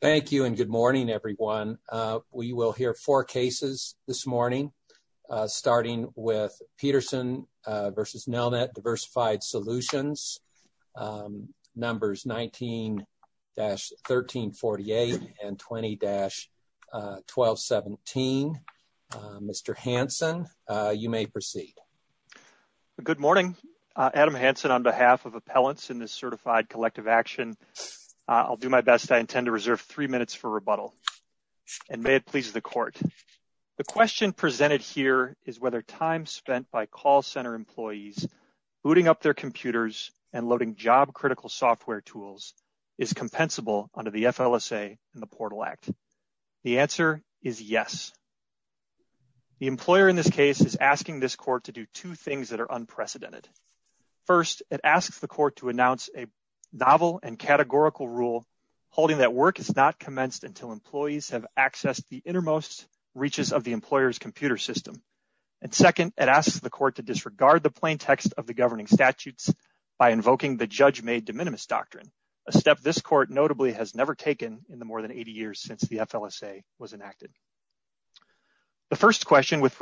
Thank you and good morning everyone. We will hear four cases this morning, starting with Peterson v. Nelnet Diversified Solutions, numbers 19-1348 and 20-1217. Mr. Hanson, you may proceed. Good morning. Adam Hanson on behalf of Appellants in this certified collective action. I'll do my best. I intend to reserve three minutes for rebuttal and may it please the court. The question presented here is whether time spent by call center employees booting up their computers and loading job critical software tools is compensable under the FLSA and the Portal Act. The answer is yes. The employer in this case is asking this court to do two things that are rule holding that work is not commenced until employees have accessed the innermost reaches of the employer's computer system. And second, it asks the court to disregard the plain text of the governing statutes by invoking the judge made de minimis doctrine, a step this court notably has never taken in the more than 80 years since the FLSA was enacted. The first question with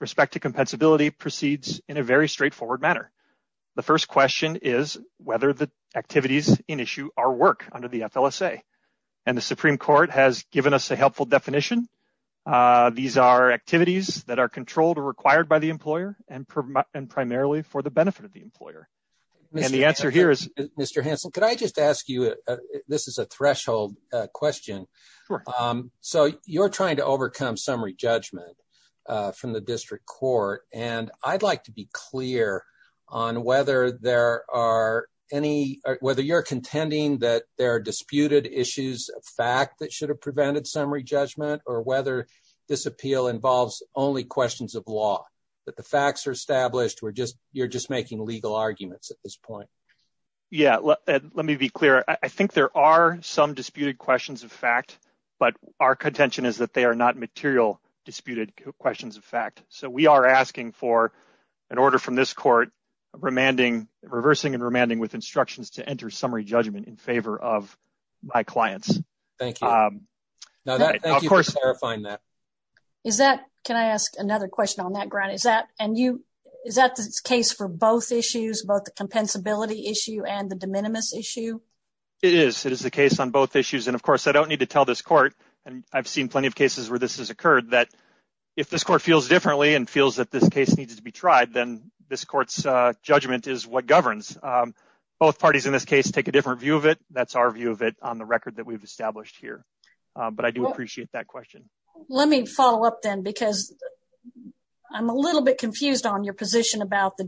respect to compensability proceeds in a very straightforward manner. The first question is whether the activities in issue our work under the FLSA and the Supreme Court has given us a helpful definition. These are activities that are controlled or required by the employer and primarily for the benefit of the employer. And the answer here is Mr. Hanson, could I just ask you this is a threshold question. So you're trying to overcome summary judgment from the district court and I'd like to be clear on whether there are any, whether you're contending that there are disputed issues of fact that should have prevented summary judgment or whether this appeal involves only questions of law, that the facts are established or just you're just making legal arguments at this point. Yeah, let me be clear. I think there are some disputed questions of fact, but our contention is that they are not material disputed questions of fact. So we are asking for an order from this court remanding, reversing and remanding with instructions to enter summary judgment in favor of my clients. Thank you. Now that, thank you for clarifying that. Is that, can I ask another question on that ground? Is that and you, is that the case for both issues, both the compensability issue and the de minimis issue? It is, it is the case on both issues. And of course I don't need to tell this court, and I've seen plenty of cases where this has occurred, that if this court feels differently and feels that this case needs to be tried, then this court's judgment is what governs. Both parties in this case take a different view of it. That's our view of it on the record that we've established here. But I do appreciate that question. Let me follow up then because I'm a little bit confused on your position about the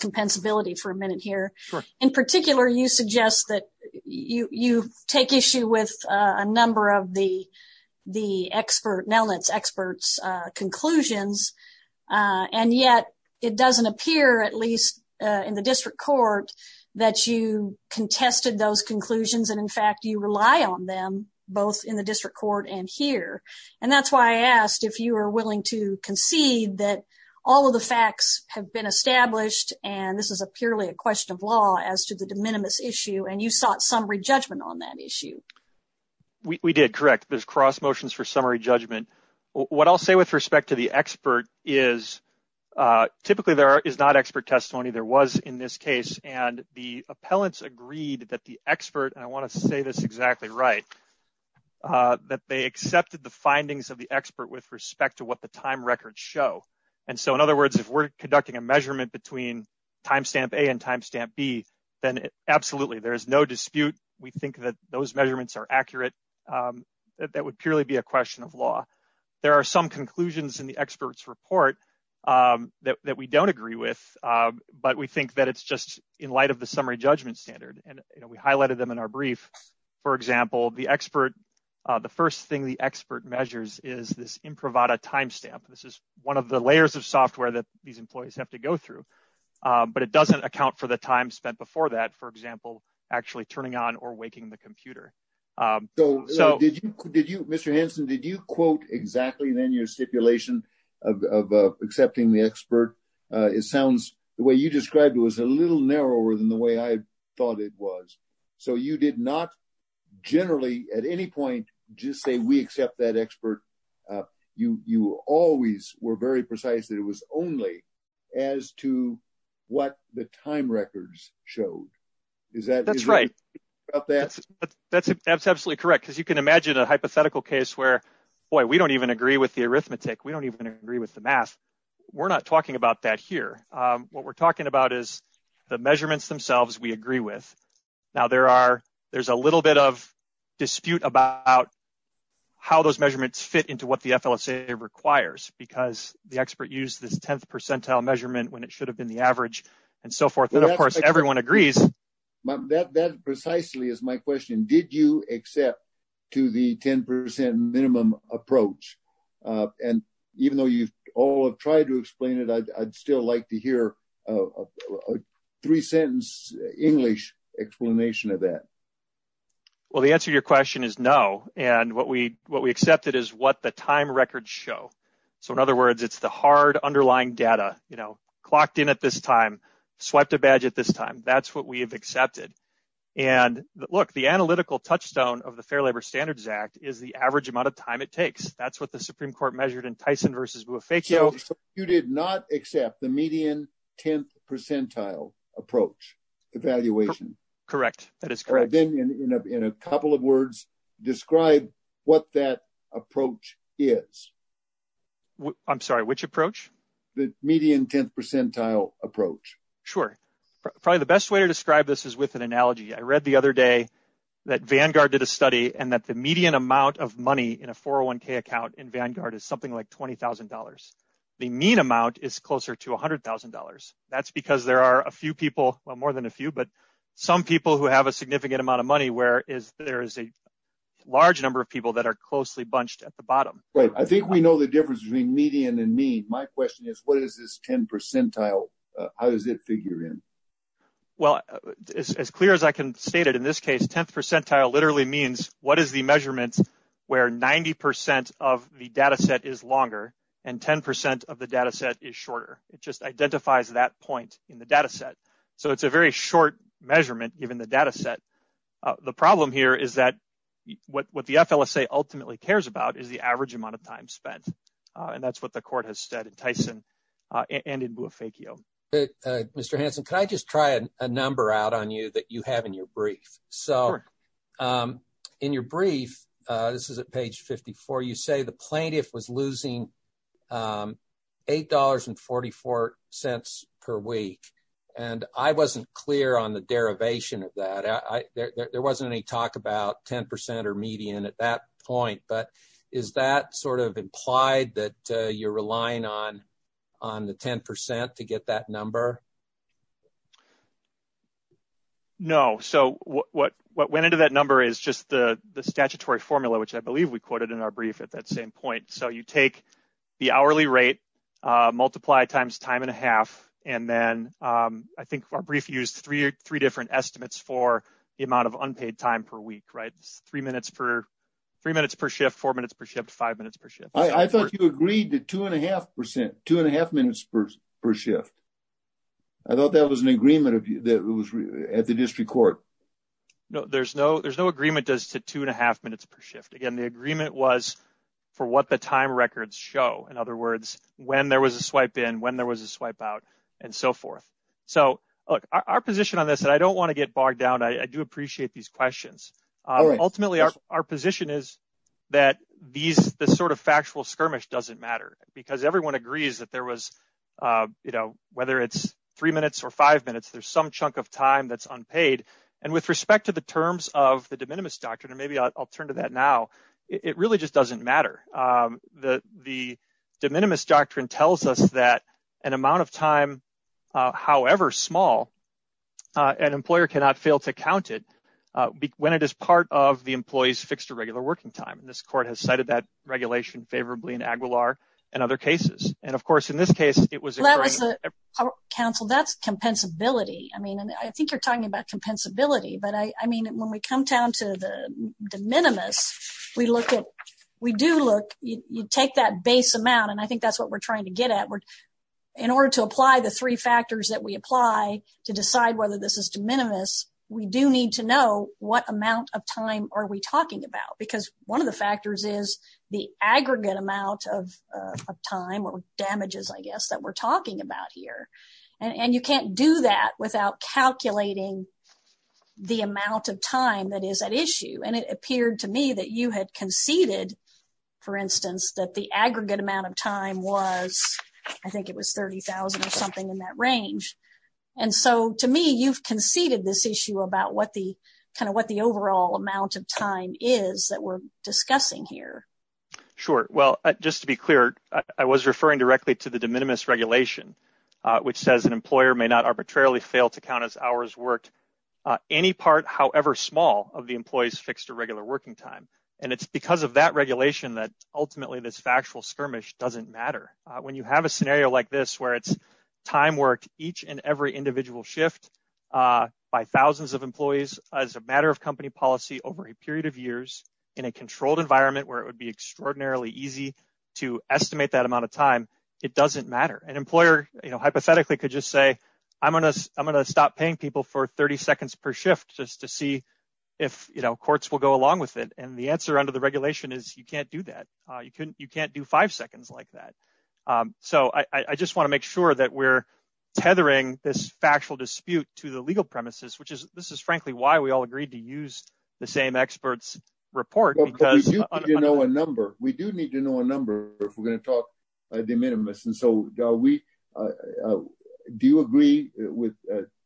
compensability for a minute here. In particular, you suggest that you, you take issue with a number of the, the expert, Nelnet's experts conclusions. And yet it doesn't appear at least in the district court that you contested those conclusions. And in fact, you rely on them both in the district court and here. And that's why I asked if you were willing to concede that all of the facts have been established, and this is a purely a question of law as to the de minimis issue, and you sought summary judgment on that issue. We did, correct. There's cross motions for summary judgment. What I'll say with respect to the expert is, typically there is not expert testimony. There was in this case, and the appellants agreed that the expert, and I want to say this exactly right, that they accepted the findings of the expert with respect to what the time records show. And so in other words, if we're conducting a measurement between timestamp A and timestamp B, then absolutely, there is no dispute. We think that those measurements are accurate. That would purely be a question of law. There are some conclusions in the expert's report that we don't agree with, but we think that it's just in light of the summary judgment standard. And we highlighted them in our brief. For example, the expert, the first thing the expert measures is this improvata timestamp. This is one of the layers of software that these employees have to go through, but it doesn't account for the time spent before that, for example, actually turning on or waking the computer. So did you, did you, Mr. Hanson, did you quote exactly then your stipulation of accepting the expert? It sounds, the way you described it was a little narrower than the way I thought it was. So you did not generally at any point just say we accept that expert. You, you always were very precise that it was only as to what the time records showed. Is that, that's right. That's, that's absolutely correct. Cause you can imagine a hypothetical case where, boy, we don't even agree with the arithmetic. We don't even agree with the math. We're not talking about that here. What we're talking about is the measurements themselves. We agree with. Now there are, there's a little bit of dispute about how those measurements fit into what the FLSA requires because the expert used this 10th percentile measurement when it should have been the average and so forth. And of course, everyone agrees. That precisely is my question. Did you accept to the 10% minimum approach? And even though you all have tried to explain it, I'd still like to hear a three sentence English explanation of that. Well, the answer to your question is no. And what we, what we accepted is what the time records show. So in other words, it's the hard underlying data, you know, clocked in at this time, swiped a badge at this time. That's what we've accepted. And look, the analytical touchstone of the fair labor standards act is the average amount of time it takes. That's what the Supreme Court measured in Tyson versus Bufecchio. So you did not accept the median 10th percentile approach evaluation. Correct. That is correct. Then in a couple of words, describe what that approach is. I'm sorry, which approach? The median 10th percentile approach. Sure. Probably the best way to describe this is with an analogy. I read the other day that Vanguard did a study and that the median amount of money in a 401k account in Vanguard is something like $20,000. The mean amount is closer to $100,000. That's because there are a few people, well, more than a few, but some people who have a significant amount of money, whereas there is a large number of people that are closely bunched at the bottom. Right. I think we know the difference between median and mean. My question is, what is this 10 percentile? How does it figure in? Well, as clear as I can state it in this case, 10th percentile literally means what is the measurements where 90 percent of the data set is longer and 10 percent of the data set is shorter. It just identifies that point in the data set. So it's a very short measurement, even the data set. The problem here is that what the FLSA ultimately cares about is the average amount of time spent. And that's what the court has said in Tyson and in Boofakio. Mr. Hanson, can I just try a number out on you that you have in your brief? So in your brief, this is at page 54, you say the plaintiff was losing $8.44 per week. And I wasn't clear on the derivation of that. There wasn't any talk about 10 percent or median at that point. But is that sort of implied that you're relying on the 10 percent to get that number? No. So what went into that number is just the statutory formula, which I believe we quoted in our brief at that same point. So you take the hourly rate, multiply times time and a half. And then I think our brief used three different estimates for the amount of unpaid time per week, right? Three minutes per shift, four minutes per shift, five minutes per shift. I thought you agreed to two and a half percent, two and a half minutes per shift. I thought that was an agreement that was at the district court. No, there's no agreement as to two and a half minutes per shift. Again, the agreement was for what the time records show. In other words, when there was a swipe in, when there was a swipe out and so forth. So our position on this, and I don't want to get bogged down, I do appreciate these questions. Ultimately, our position is that this sort of factual skirmish doesn't matter because everyone agrees that there was, you know, whether it's three minutes or five minutes, there's some chunk of time that's unpaid. And with respect to the terms of the de minimis doctrine, and maybe I'll turn to that now, it really just doesn't matter. The de minimis doctrine tells us that an amount of time, however small, an employer cannot fail to count it when it is part of the employee's fixed or regular working time. And this court has cited that regulation favorably in Aguilar and other cases. And of course, in this case, it was- Well, that was, counsel, that's compensability. I mean, I think you're talking about compensability, but I mean, when we come down to the de minimis, we look at, we do look, you take that base amount, and I think that's what we're trying to get at. In order to apply the three factors that we apply to decide whether this is de minimis, we do need to know what amount of time are we talking about, because one of the factors is the aggregate amount of time or damages, I guess, that we're talking about here. And you can't do that without calculating the amount of time that is at issue. And it appeared to me that you had conceded, for instance, that the aggregate amount of time was, I think it was 30,000 or something in that range. And so, to me, you've conceded this issue about what the overall amount of time is that we're discussing here. Sure. Well, just to be clear, I was referring directly to the de minimis regulation, which says an employer may not arbitrarily fail to count as hours worked any part, however small, of the employee's fixed or regular working time. And it's because of that regulation that ultimately this factual skirmish doesn't matter. When you have a scenario like this, where it's time worked each and every individual shift by thousands of employees as a matter of company policy over a period of years in a controlled environment where it would be extraordinarily easy to estimate that amount of time, it doesn't matter. An employer hypothetically could just say, I'm going to stop paying people for 30 seconds per shift just to see if courts will go along with it. And the answer under the regulation is you can't do that. You can't do five seconds like that. So I just want to make sure that we're tethering this factual dispute to the legal premises, which is this is frankly why we all agreed to use the same expert's report. But we do need to know a number. We do need to know a number if we're going to talk de minimis. And so do you agree with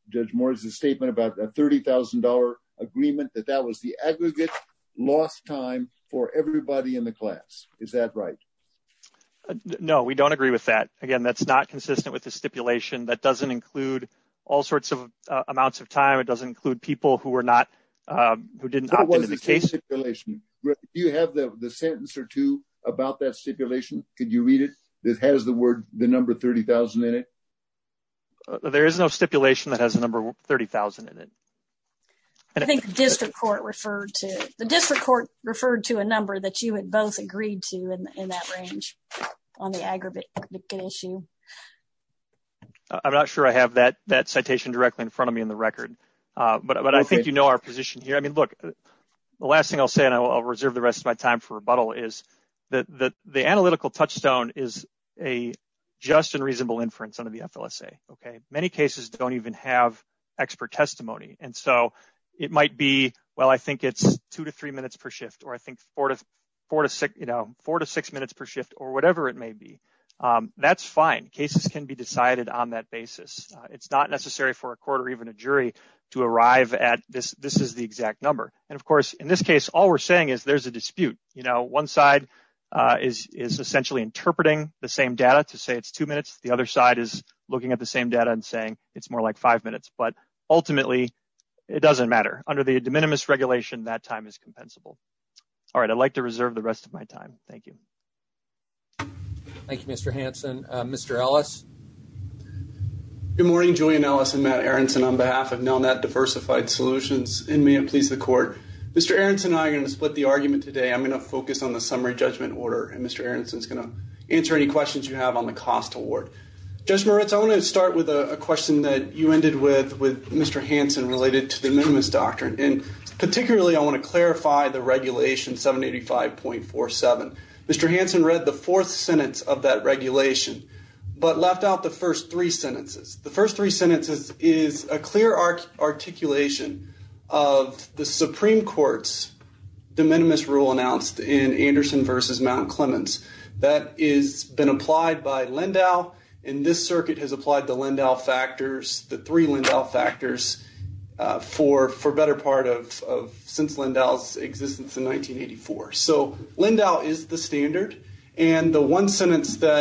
Judge Morris's statement about a $30,000 agreement that that was the aggregate lost time for everybody in the class? Is that right? No, we don't agree with that. Again, that's not consistent with the stipulation. That doesn't include all sorts of amounts of time. It doesn't include people who were not, who didn't opt into the case. What was the stipulation? Do you have the sentence or two about that stipulation? Could you read it? It has the word, the number 30,000 in it. There is no stipulation that has a number 30,000 in it. And I think the district court referred to the district court referred to a number that you had both agreed to in that range on the aggregate issue. I'm not sure I have that that citation directly in front of me in the record. But I think you know our position here. I mean, look, the last thing I'll say and I'll reserve the rest of my time for rebuttal is that the analytical touchstone is a just and reasonable inference under the FLSA. Many cases don't even have expert testimony. And so it might be, well, I think it's two to three minutes per shift, or I think four to six minutes per shift, or whatever it may be. That's fine. Cases can be decided on that basis. It's not necessary for a court or even a jury to arrive at this. This is exact number. And of course, in this case, all we're saying is there's a dispute. One side is essentially interpreting the same data to say it's two minutes. The other side is looking at the same data and saying it's more like five minutes. But ultimately, it doesn't matter. Under the de minimis regulation, that time is compensable. All right, I'd like to reserve the rest of my time. Thank you. Thank you, Mr. Hanson. Mr. Ellis. Good morning, Julian Ellis and Matt Aronson on behalf of Nelnet Diversified Solutions. And may it please the court, Mr. Aronson and I are going to split the argument today. I'm going to focus on the summary judgment order. And Mr. Aronson is going to answer any questions you have on the cost award. Judge Moritz, I want to start with a question that you ended with, with Mr. Hanson related to the minimus doctrine. And particularly, I want to clarify the regulation 785.47. Mr. Hanson read the fourth sentence of that regulation, but left out the first three of the Supreme Court's de minimis rule announced in Anderson versus Mount Clemens. That has been applied by Lindau. And this circuit has applied the Lindau factors, the three Lindau factors for better part of since Lindau's existence in 1984. So Lindau is the standard. And the one shift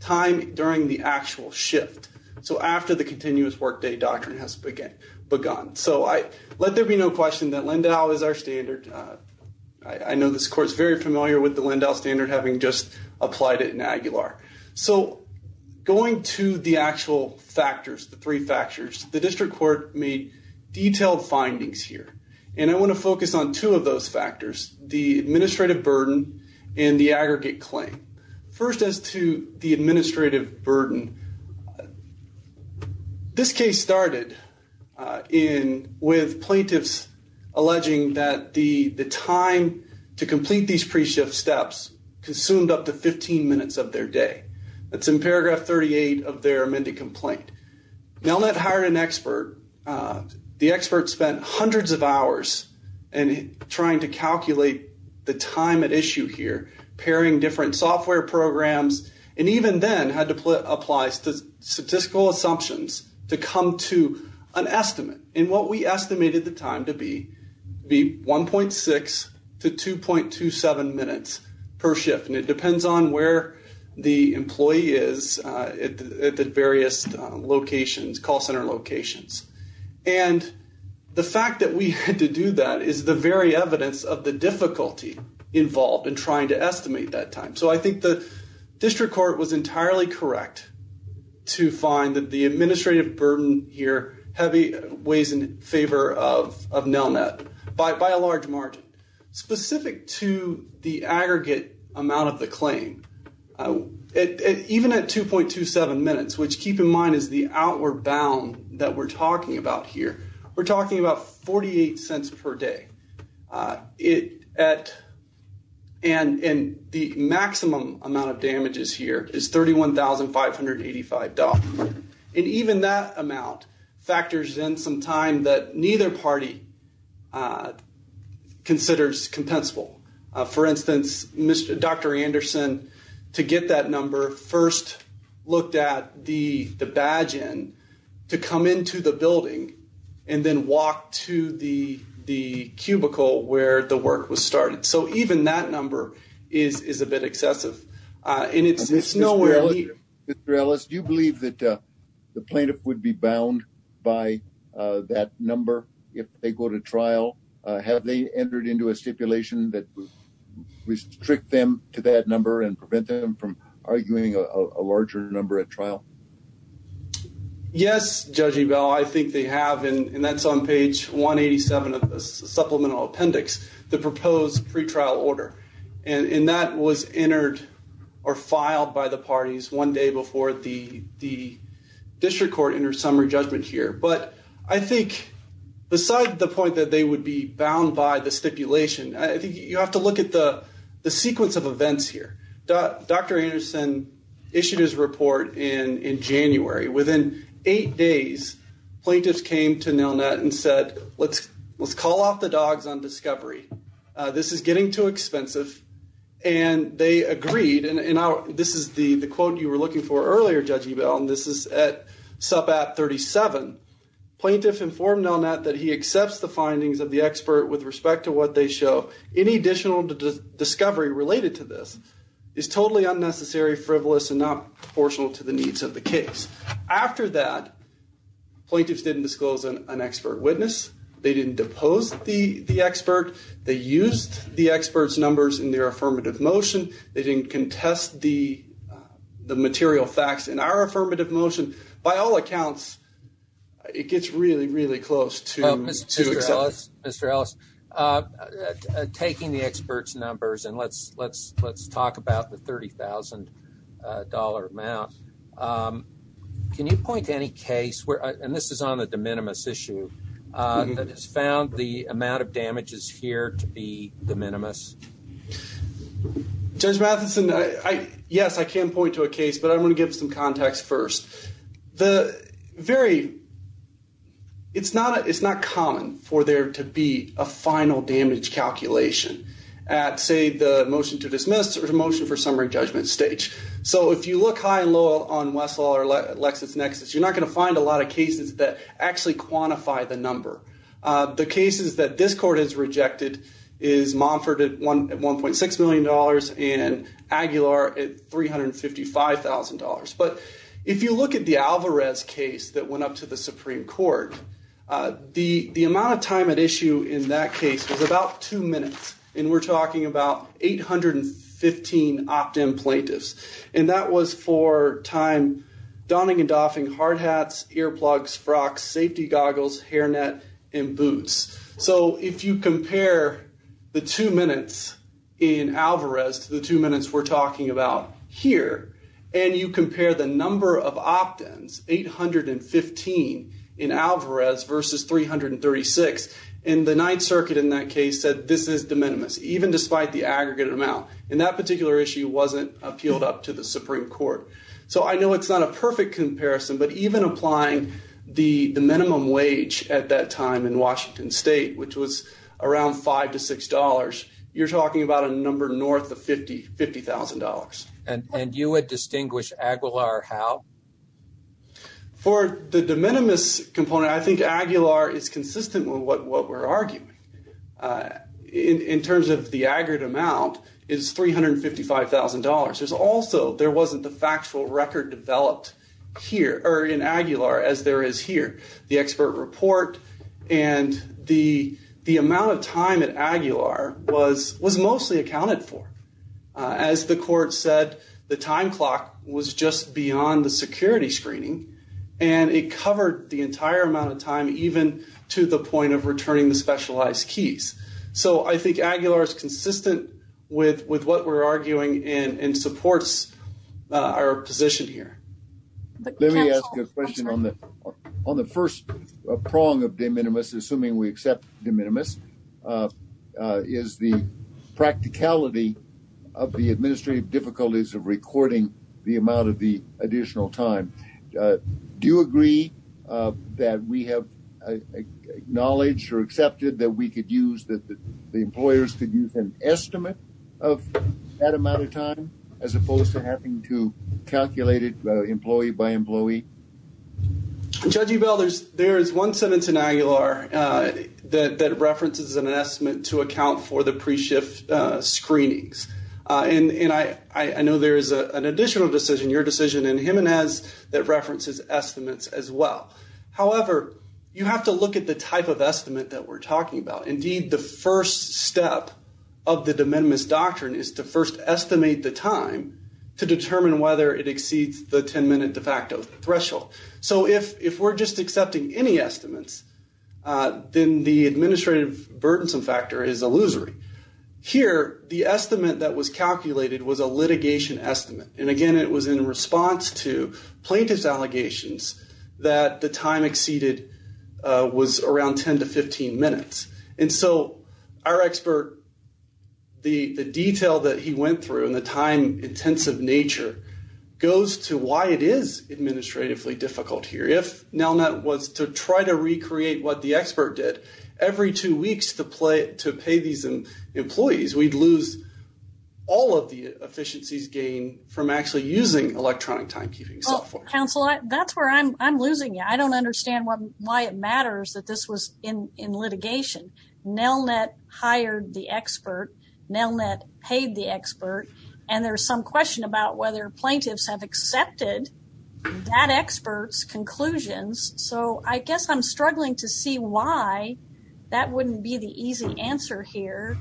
time during the actual shift. So after the continuous workday doctrine has begun. So let there be no question that Lindau is our standard. I know this court's very familiar with the Lindau standard having just applied it in Aguilar. So going to the actual factors, the three factors, the district court made detailed findings here. And I want to focus on two of those factors, the administrative burden and the aggregate claim. First as to the administrative burden, this case started in with plaintiffs alleging that the time to complete these pre-shift steps consumed up to 15 minutes of their day. That's in paragraph 38 of their amended complaint. Now that hired an expert, the expert spent hundreds of hours in trying to calculate the time at issue here, pairing different software programs, and even then had to apply statistical assumptions to come to an estimate. And what we estimated the time to be 1.6 to 2.27 minutes per shift. And it depends on where the employee is at the various locations, call center locations. And the fact that we had to do that is the very evidence of the difficulty involved in trying to estimate that time. So I think the district court was entirely correct to find that the administrative burden here weighs in favor of Nelnet by a large margin. Specific to the aggregate amount of the claim, even at 2.27 minutes, which keep in mind is the amount we're bound that we're talking about here, we're talking about 48 cents per day. And the maximum amount of damages here is $31,585. And even that amount factors in some time that neither party considers compensable. For instance, Dr. Anderson, to get that number, first looked at the badge end to come into the building and then walk to the cubicle where the work was started. So even that number is a bit excessive. And it's nowhere near. Mr. Ellis, do you believe that the plaintiff would be bound by that number if they go to trial? Have they entered into a stipulation that would restrict them to that number and prevent them from a larger number at trial? Yes, Judge Ebell, I think they have. And that's on page 187 of the supplemental appendix, the proposed pretrial order. And that was entered or filed by the parties one day before the district court entered summary judgment here. But I think besides the point that they would be bound by the stipulation, I think you have to look at the sequence of events here. Dr. Anderson issued his report in January. Within eight days, plaintiffs came to Nelnet and said, let's call off the dogs on discovery. This is getting too expensive. And they agreed. And this is the quote you were looking for earlier, Judge Ebell, and this is at subat 37. Plaintiff informed Nelnet that he accepts the findings of the expert with respect to what they show. Any additional discovery related to this is totally unnecessary, frivolous, and not proportional to the needs of the case. After that, plaintiffs didn't disclose an expert witness. They didn't depose the expert. They used the expert's numbers in their affirmative motion. They didn't contest the material facts in our affirmative motion. By all accounts, it gets really, really close to Mr. Ellis. Taking the expert's numbers, and let's talk about the $30,000 amount, can you point to any case where, and this is on the de minimis issue, that has found the amount of damages here to be de minimis? Judge Matheson, yes, I can point to a case, but I'm going to give some context first. The very, it's not common for there to be a final damage calculation at, say, the motion to dismiss or the motion for summary judgment stage. So if you look high and low on Westlaw or LexisNexis, you're not going to find a lot of cases that actually quantify the number. The cases that this court has rejected is Monfort at $1.6 million and Aguilar at $355,000. But if you look at the Alvarez case that went up to the Supreme Court, the amount of time at issue in that case was about two minutes, and we're talking about 815 opt-in plaintiffs. And that was for time donning and doffing hard hats, earplugs, frocks, safety goggles, hairnet, and boots. So if you compare the two minutes in Alvarez to the two minutes we're talking about, if you compare the number of opt-ins, 815 in Alvarez versus 336, and the Ninth Circuit in that case said this is de minimis, even despite the aggregate amount. And that particular issue wasn't appealed up to the Supreme Court. So I know it's not a perfect comparison, but even applying the minimum wage at that time in Washington State, which was around $5 to $6, you're talking about a number north of $50,000. And you would distinguish Aguilar how? For the de minimis component, I think Aguilar is consistent with what we're arguing. In terms of the aggregate amount, it's $355,000. There's also, there wasn't the factual record developed here, or in Aguilar as there is here. The expert report, and the amount of time at As the court said, the time clock was just beyond the security screening, and it covered the entire amount of time, even to the point of returning the specialized keys. So I think Aguilar is consistent with what we're arguing and supports our position here. Let me ask a question on the first prong of de minimis, assuming we accept de minimis, is the practicality of the administrative difficulties of recording the amount of the additional time. Do you agree that we have acknowledged or accepted that we could use, that the employers could use an estimate of that amount of time, as opposed to having to calculate it employee by employee? Judge Ebell, there is one sentence in Aguilar that references an estimate to account for the pre-shift screenings. And I know there is an additional decision, your decision, and Jimenez that references estimates as well. However, you have to look at the type of estimate that we're talking about. Indeed, the first step of the de minimis doctrine is to first estimate the time to determine whether it exceeds the 10-minute de facto threshold. So if we're just accepting any estimates, then the administrative burdensome factor is illusory. Here, the estimate that was calculated was a litigation estimate. And again, it was in response to plaintiff's allegations that the time exceeded was around 10 to 15 minutes. And so our expert, the detail that he nature, goes to why it is administratively difficult here. If Nelnet was to try to recreate what the expert did, every two weeks to pay these employees, we'd lose all of the efficiencies gained from actually using electronic timekeeping software. Counselor, that's where I'm losing you. I don't understand why it matters that this was in litigation. Nelnet hired the expert. Nelnet paid the expert. And there's some question about whether plaintiffs have accepted that expert's conclusions. So I guess I'm struggling to see why that wouldn't be the easy answer here.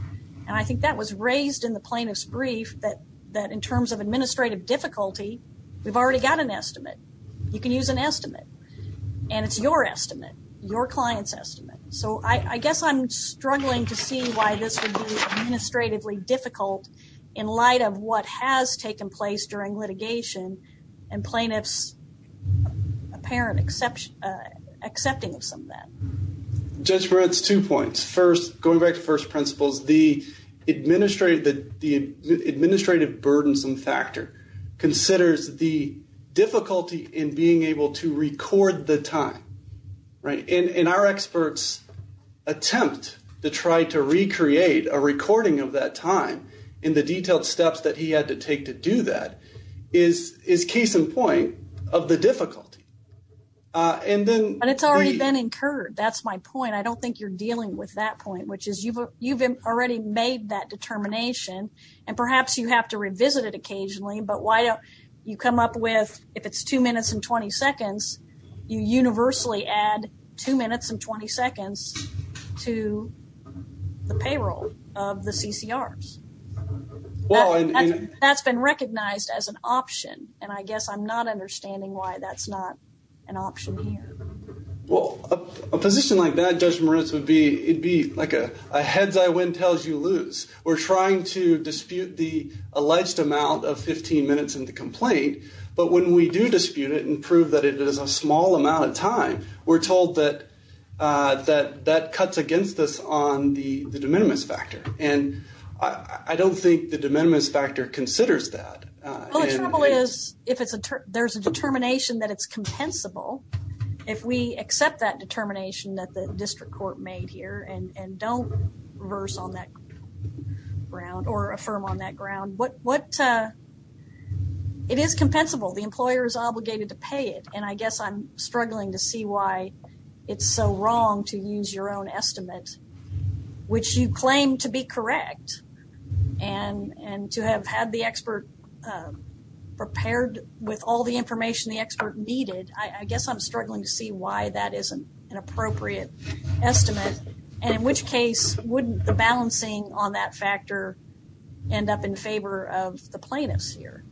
And I think that was raised in the plaintiff's brief that in terms of administrative difficulty, we've already got an estimate. You can use an estimate. And it's your estimate, your client's estimate. So I guess I'm struggling to see why this would be administratively difficult in light of what has taken place during litigation and plaintiffs' apparent accepting of some of that. Judge Barrett's two points. First, going back to first principles, the administrative burdensome factor considers the difficulty in being able to record the time. And our experts attempt to try to recreate a recording of that time in the detailed steps that he had to take to do that is case in point of the difficulty. And then... But it's already been incurred. That's my point. I don't think you're dealing with that point, which is you've already made that determination. And perhaps you have to revisit it occasionally. But why don't you come up with, if it's two minutes and 20 seconds, to the payroll of the CCRs? That's been recognized as an option, and I guess I'm not understanding why that's not an option here. Well, a position like that, Judge Moritz, would be, it'd be like a heads I win, tails you lose. We're trying to dispute the alleged amount of 15 minutes in the complaint. But when we do dispute it and prove that it is a small amount of time, we're told that that cuts against us on the de minimis factor. And I don't think the de minimis factor considers that. Well, the trouble is, if there's a determination that it's compensable, if we accept that determination that the district court made here and don't reverse on that ground or affirm on that ground, it is compensable. The employer is obligated to pay it. And I guess I'm struggling to see why it's so wrong to use your own estimate, which you claim to be correct. And to have had the expert prepared with all the information the expert needed, I guess I'm struggling to see why that isn't an appropriate estimate. And in which case, wouldn't the balancing on that factor end up in favor of the plaintiffs here?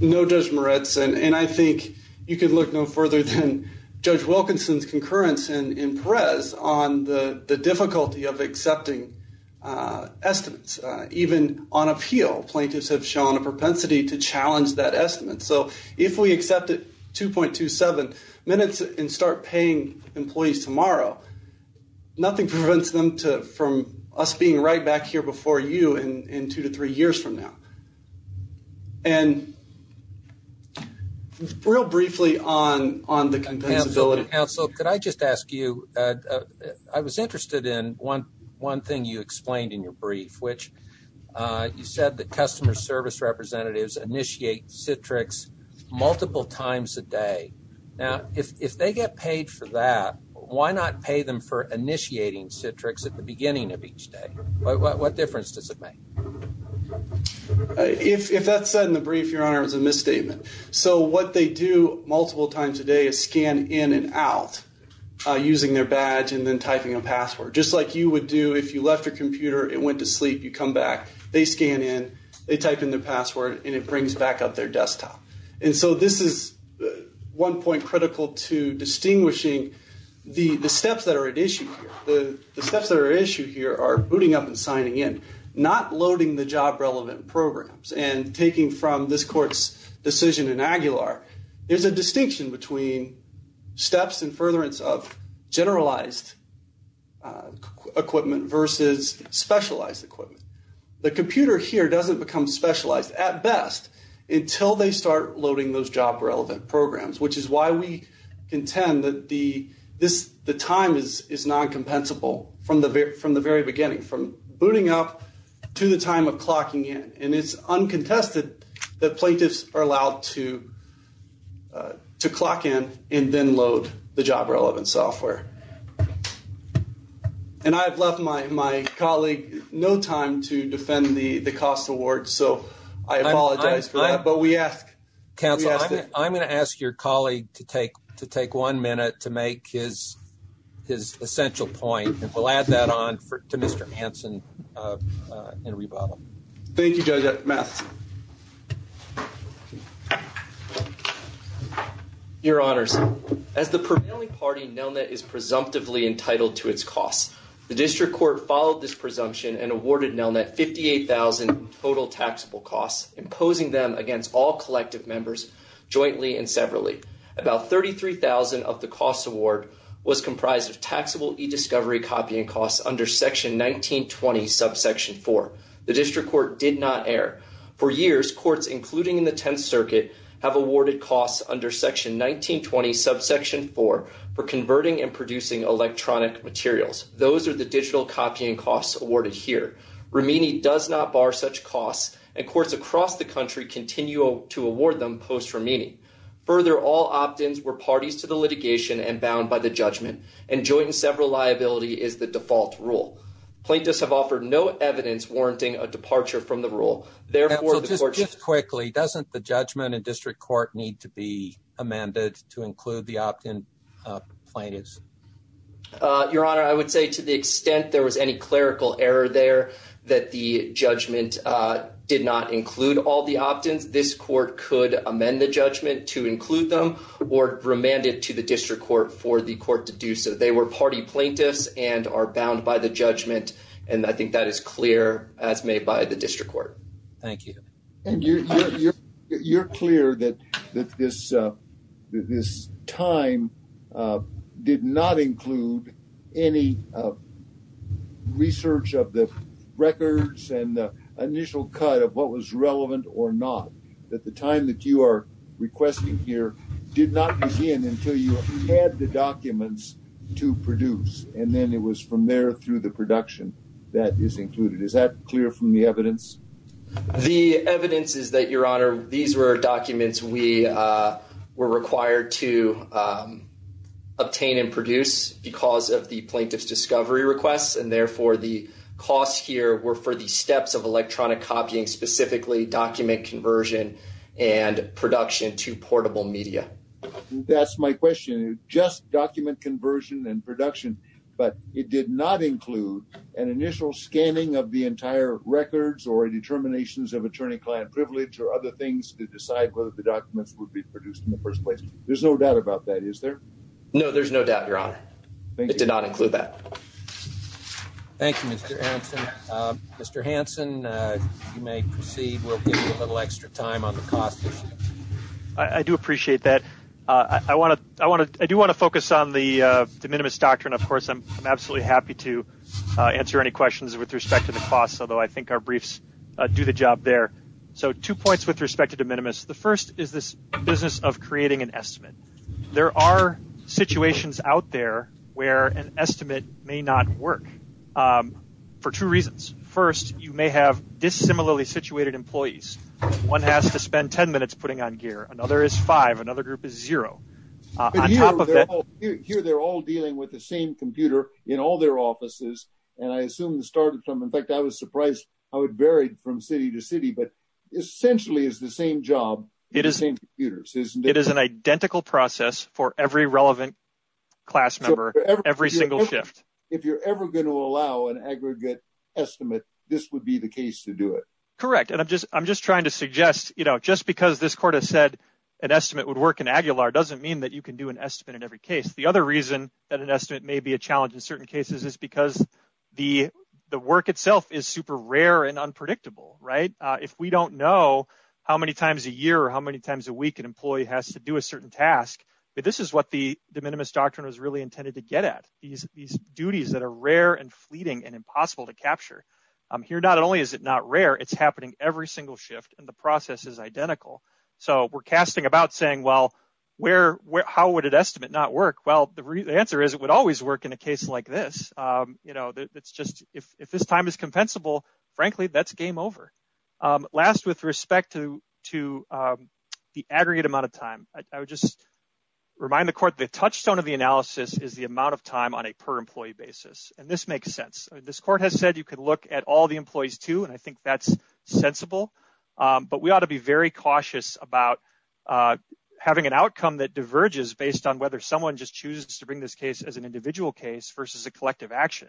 No, Judge Moritz. And I think you could look no further than Judge Wilkinson's concurrence in Perez on the difficulty of accepting estimates. Even on appeal, plaintiffs have shown a propensity to challenge that estimate. So if we accept it 2.27 minutes and start paying employees tomorrow, nothing prevents them from us being right back here before you in two to three years from now. And real briefly on the compensability. Counsel, could I just ask you, I was interested in one thing you explained in your brief, which you said that customer service representatives initiate Citrix multiple times a day. Now, if they get paid for that, why not pay them for initiating Citrix at the beginning of each day? What difference does it make? If that's said in the brief, Your Honor, it was a misstatement. So what they do multiple times a day is scan in and out using their badge and then typing a password. Just like you would do if you left your computer, it went to sleep, you come back, they scan in, they type in their password, and it brings back up their desktop. And so this is one point critical to distinguishing the steps that are at issue here. The steps that are at issue here are booting up and signing in, not loading the job relevant programs. And taking from this court's decision in Aguilar, there's a distinction between steps and furtherance of generalized equipment versus specialized equipment. The computer here doesn't become specialized at best until they start loading those job relevant programs, which is why we contend that the time is non-compensable from the very beginning, from booting up to the time of clocking in. And it's uncontested that plaintiffs are allowed to clock in and then load the job relevant software. And I've left my colleague no time to defend the cost award, so I apologize for that, but we ask. Counsel, I'm going to ask your colleague to take one minute to make his essential point, and we'll add that on to Mr. Hanson in rebuttal. Thank you, Judge Matheson. Your Honors, as the prevailing party, Nelnet is presumptively entitled to its costs. The district court followed this presumption and awarded Nelnet 58,000 total taxable costs, imposing them against all collective members jointly and severally. About 33,000 of the cost award was comprised of taxable e-discovery copying costs under section 1920 subsection 4. The district court did not err. For years, courts, including in the Tenth Circuit, have awarded costs under section 1920 subsection 4 for converting and producing electronic materials. Those are the digital copying costs awarded here. Rimini does not bar such costs and courts across the country continue to award them post-Rimini. Further, all opt-ins were parties to the litigation and bound by the judgment, and joint and several liability is the default rule. Plaintiffs have offered no evidence warranting a departure from the rule. Therefore, the court should... So just quickly, doesn't the judgment in district court need to be amended to include the opt-in plaintiffs? Your Honor, I would say to the extent there was any clerical error there that the judgment did not include all the opt-ins, this court could amend the judgment to include them or remand it to the district court for the court to do so. They were party plaintiffs and are bound by the judgment, and I think that is clear as made by the district court. Thank you. You're clear that this time did not include any research of the records and the initial cut of what was relevant or not, that the time that you are requesting here did not begin until you had the documents to produce, and then it was from there through the production that is included. Is that clear from the evidence? The evidence is that, Your Honor, these were documents we were required to obtain and produce because of the plaintiff's discovery requests, and therefore the costs here were for the steps of electronic copying, specifically document conversion and production to portable media. That's my question. Just document conversion and production, but it did not include an initial scanning of the entire records or determinations of attorney-client privilege or other things to decide whether the documents would be produced in the first place. There's no doubt about that, is there? No, there's no doubt, Your Honor. It did not include that. Thank you, Mr. Hanson. Mr. Hanson, you may proceed. We'll give you a little extra time on the costs. I do appreciate that. I do want to focus on the de minimis doctrine, of course. I'm absolutely happy to answer any questions with respect to the costs, although I think our briefs do the job there. Two points with respect to de minimis. The first is this business of creating an estimate. There are situations out there where an estimate may not work for two reasons. First, you may have dissimilarly situated employees. One has to spend 10 minutes putting on gear. Another is five. Another group is zero. Here, they're all dealing with the same computer in all their offices. I assume it started from, in fact, I was surprised. I would vary from city to city, but essentially it's the same job. It is the same computers, isn't it? It is an identical process for every relevant class member, every single shift. If you're ever going to allow an aggregate estimate, this would be the case to do it. Correct. I'm just trying to suggest, just because this court has said an estimate would work in Aguilar doesn't mean that you can do an estimate in every case. The other reason that an estimate may be a challenge in certain cases is because the work itself is super rare and unpredictable. If we don't know how many times a year or how many times a week an employee has to do a certain task, this is what the de minimis doctrine was really intended to get at. These duties that are rare and fleeting and impossible to capture. Here, not only is it not rare, it's happening every single shift and the process is identical. We're casting about saying, well, how would an estimate not work? Well, the answer is it would always work in a case like this. If this time is compensable, frankly, that's game over. Last, with respect to the aggregate amount of time, I would just remind the court the touchstone of the analysis is the amount of time on a per-employee basis. This makes sense. This court has said you could look at all the employees too, and I think that's sensible, but we ought to be very cautious about having an outcome that diverges based on whether someone just chooses to bring this case as an individual case versus a collective action.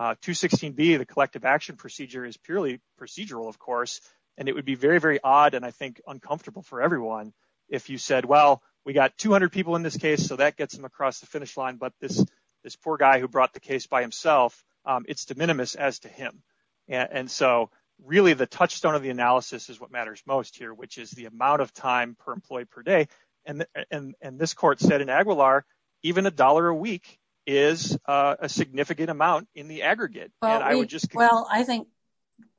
216B, the collective action is purely procedural, of course, and it would be very, very odd and I think uncomfortable for everyone if you said, well, we got 200 people in this case, so that gets them across the finish line, but this poor guy who brought the case by himself, it's de minimis as to him. Really, the touchstone of the analysis is what matters most here, which is the amount of time per employee per day. This court said in Aguilar, even a dollar a week is a significant amount in the aggregate. Well, I think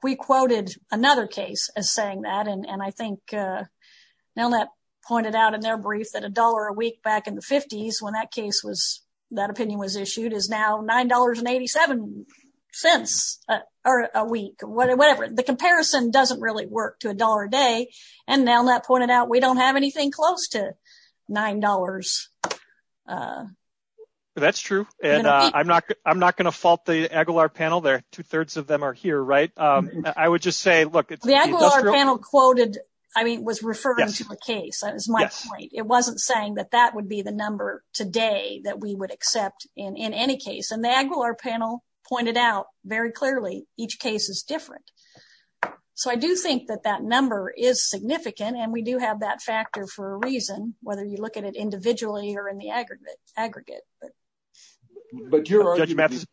we quoted another case as saying that, and I think Nelnett pointed out in their brief that a dollar a week back in the 50s when that case was, that opinion was issued, is now $9.87 cents a week, whatever. The comparison doesn't really work to a dollar a day, and Nelnett pointed out we don't have anything close to $9. That's true, and I'm not going to fault the Aguilar panel there. Two-thirds of them are here, right? I would just say, look, the Aguilar panel quoted, I mean, was referring to a case, that was my point. It wasn't saying that that would be the number today that we would accept in any case, and the Aguilar panel pointed out very clearly each case is different. So I do think that that number is significant, and we do have that factor for a reason, whether you look at it individually or in the aggregate. But your argument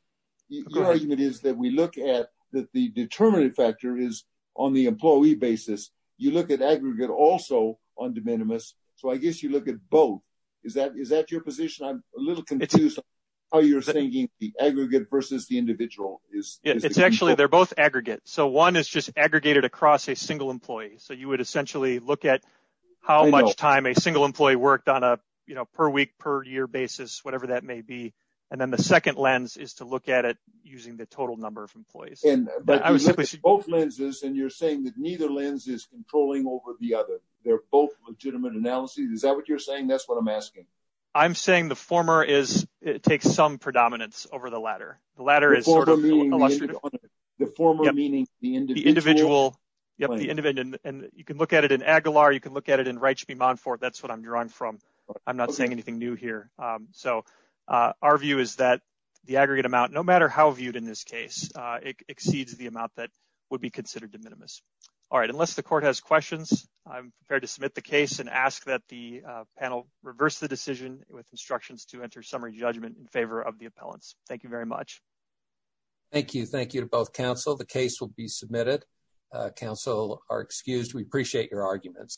is that we look at that the determinative factor is on the employee basis. You look at aggregate also on de minimis, so I guess you look at both. Is that your position? I'm a little confused how you're thinking the aggregate versus the individual. It's actually, they're both aggregate. So one is just aggregated across a single employee, so you would essentially look at how much time a single employee worked on a per week, per year basis, whatever that may be. And then the second lens is to look at it using the total number of employees. But you look at both lenses, and you're saying that neither lens is controlling over the other. They're both legitimate analyses. Is that what you're saying? That's what I'm asking. I'm saying the former is, it takes some predominance over the latter. The latter is sort of illustrative. The former meaning the individual. Yep, the individual. And you can look at it in Aguilar. You can look at it in Reichby-Monfort. That's what I'm drawing from. I'm not saying anything new here. So our view is that the aggregate amount, no matter how viewed in this case, it exceeds the amount that would be considered de minimis. All right, unless the court has questions, I'm prepared to submit the case and ask that the panel reverse the decision with instructions to enter summary judgment in favor of the appellants. Thank you very much. Thank you. Thank you to both counsel. The case will be submitted. Counsel are excused. We appreciate your arguments.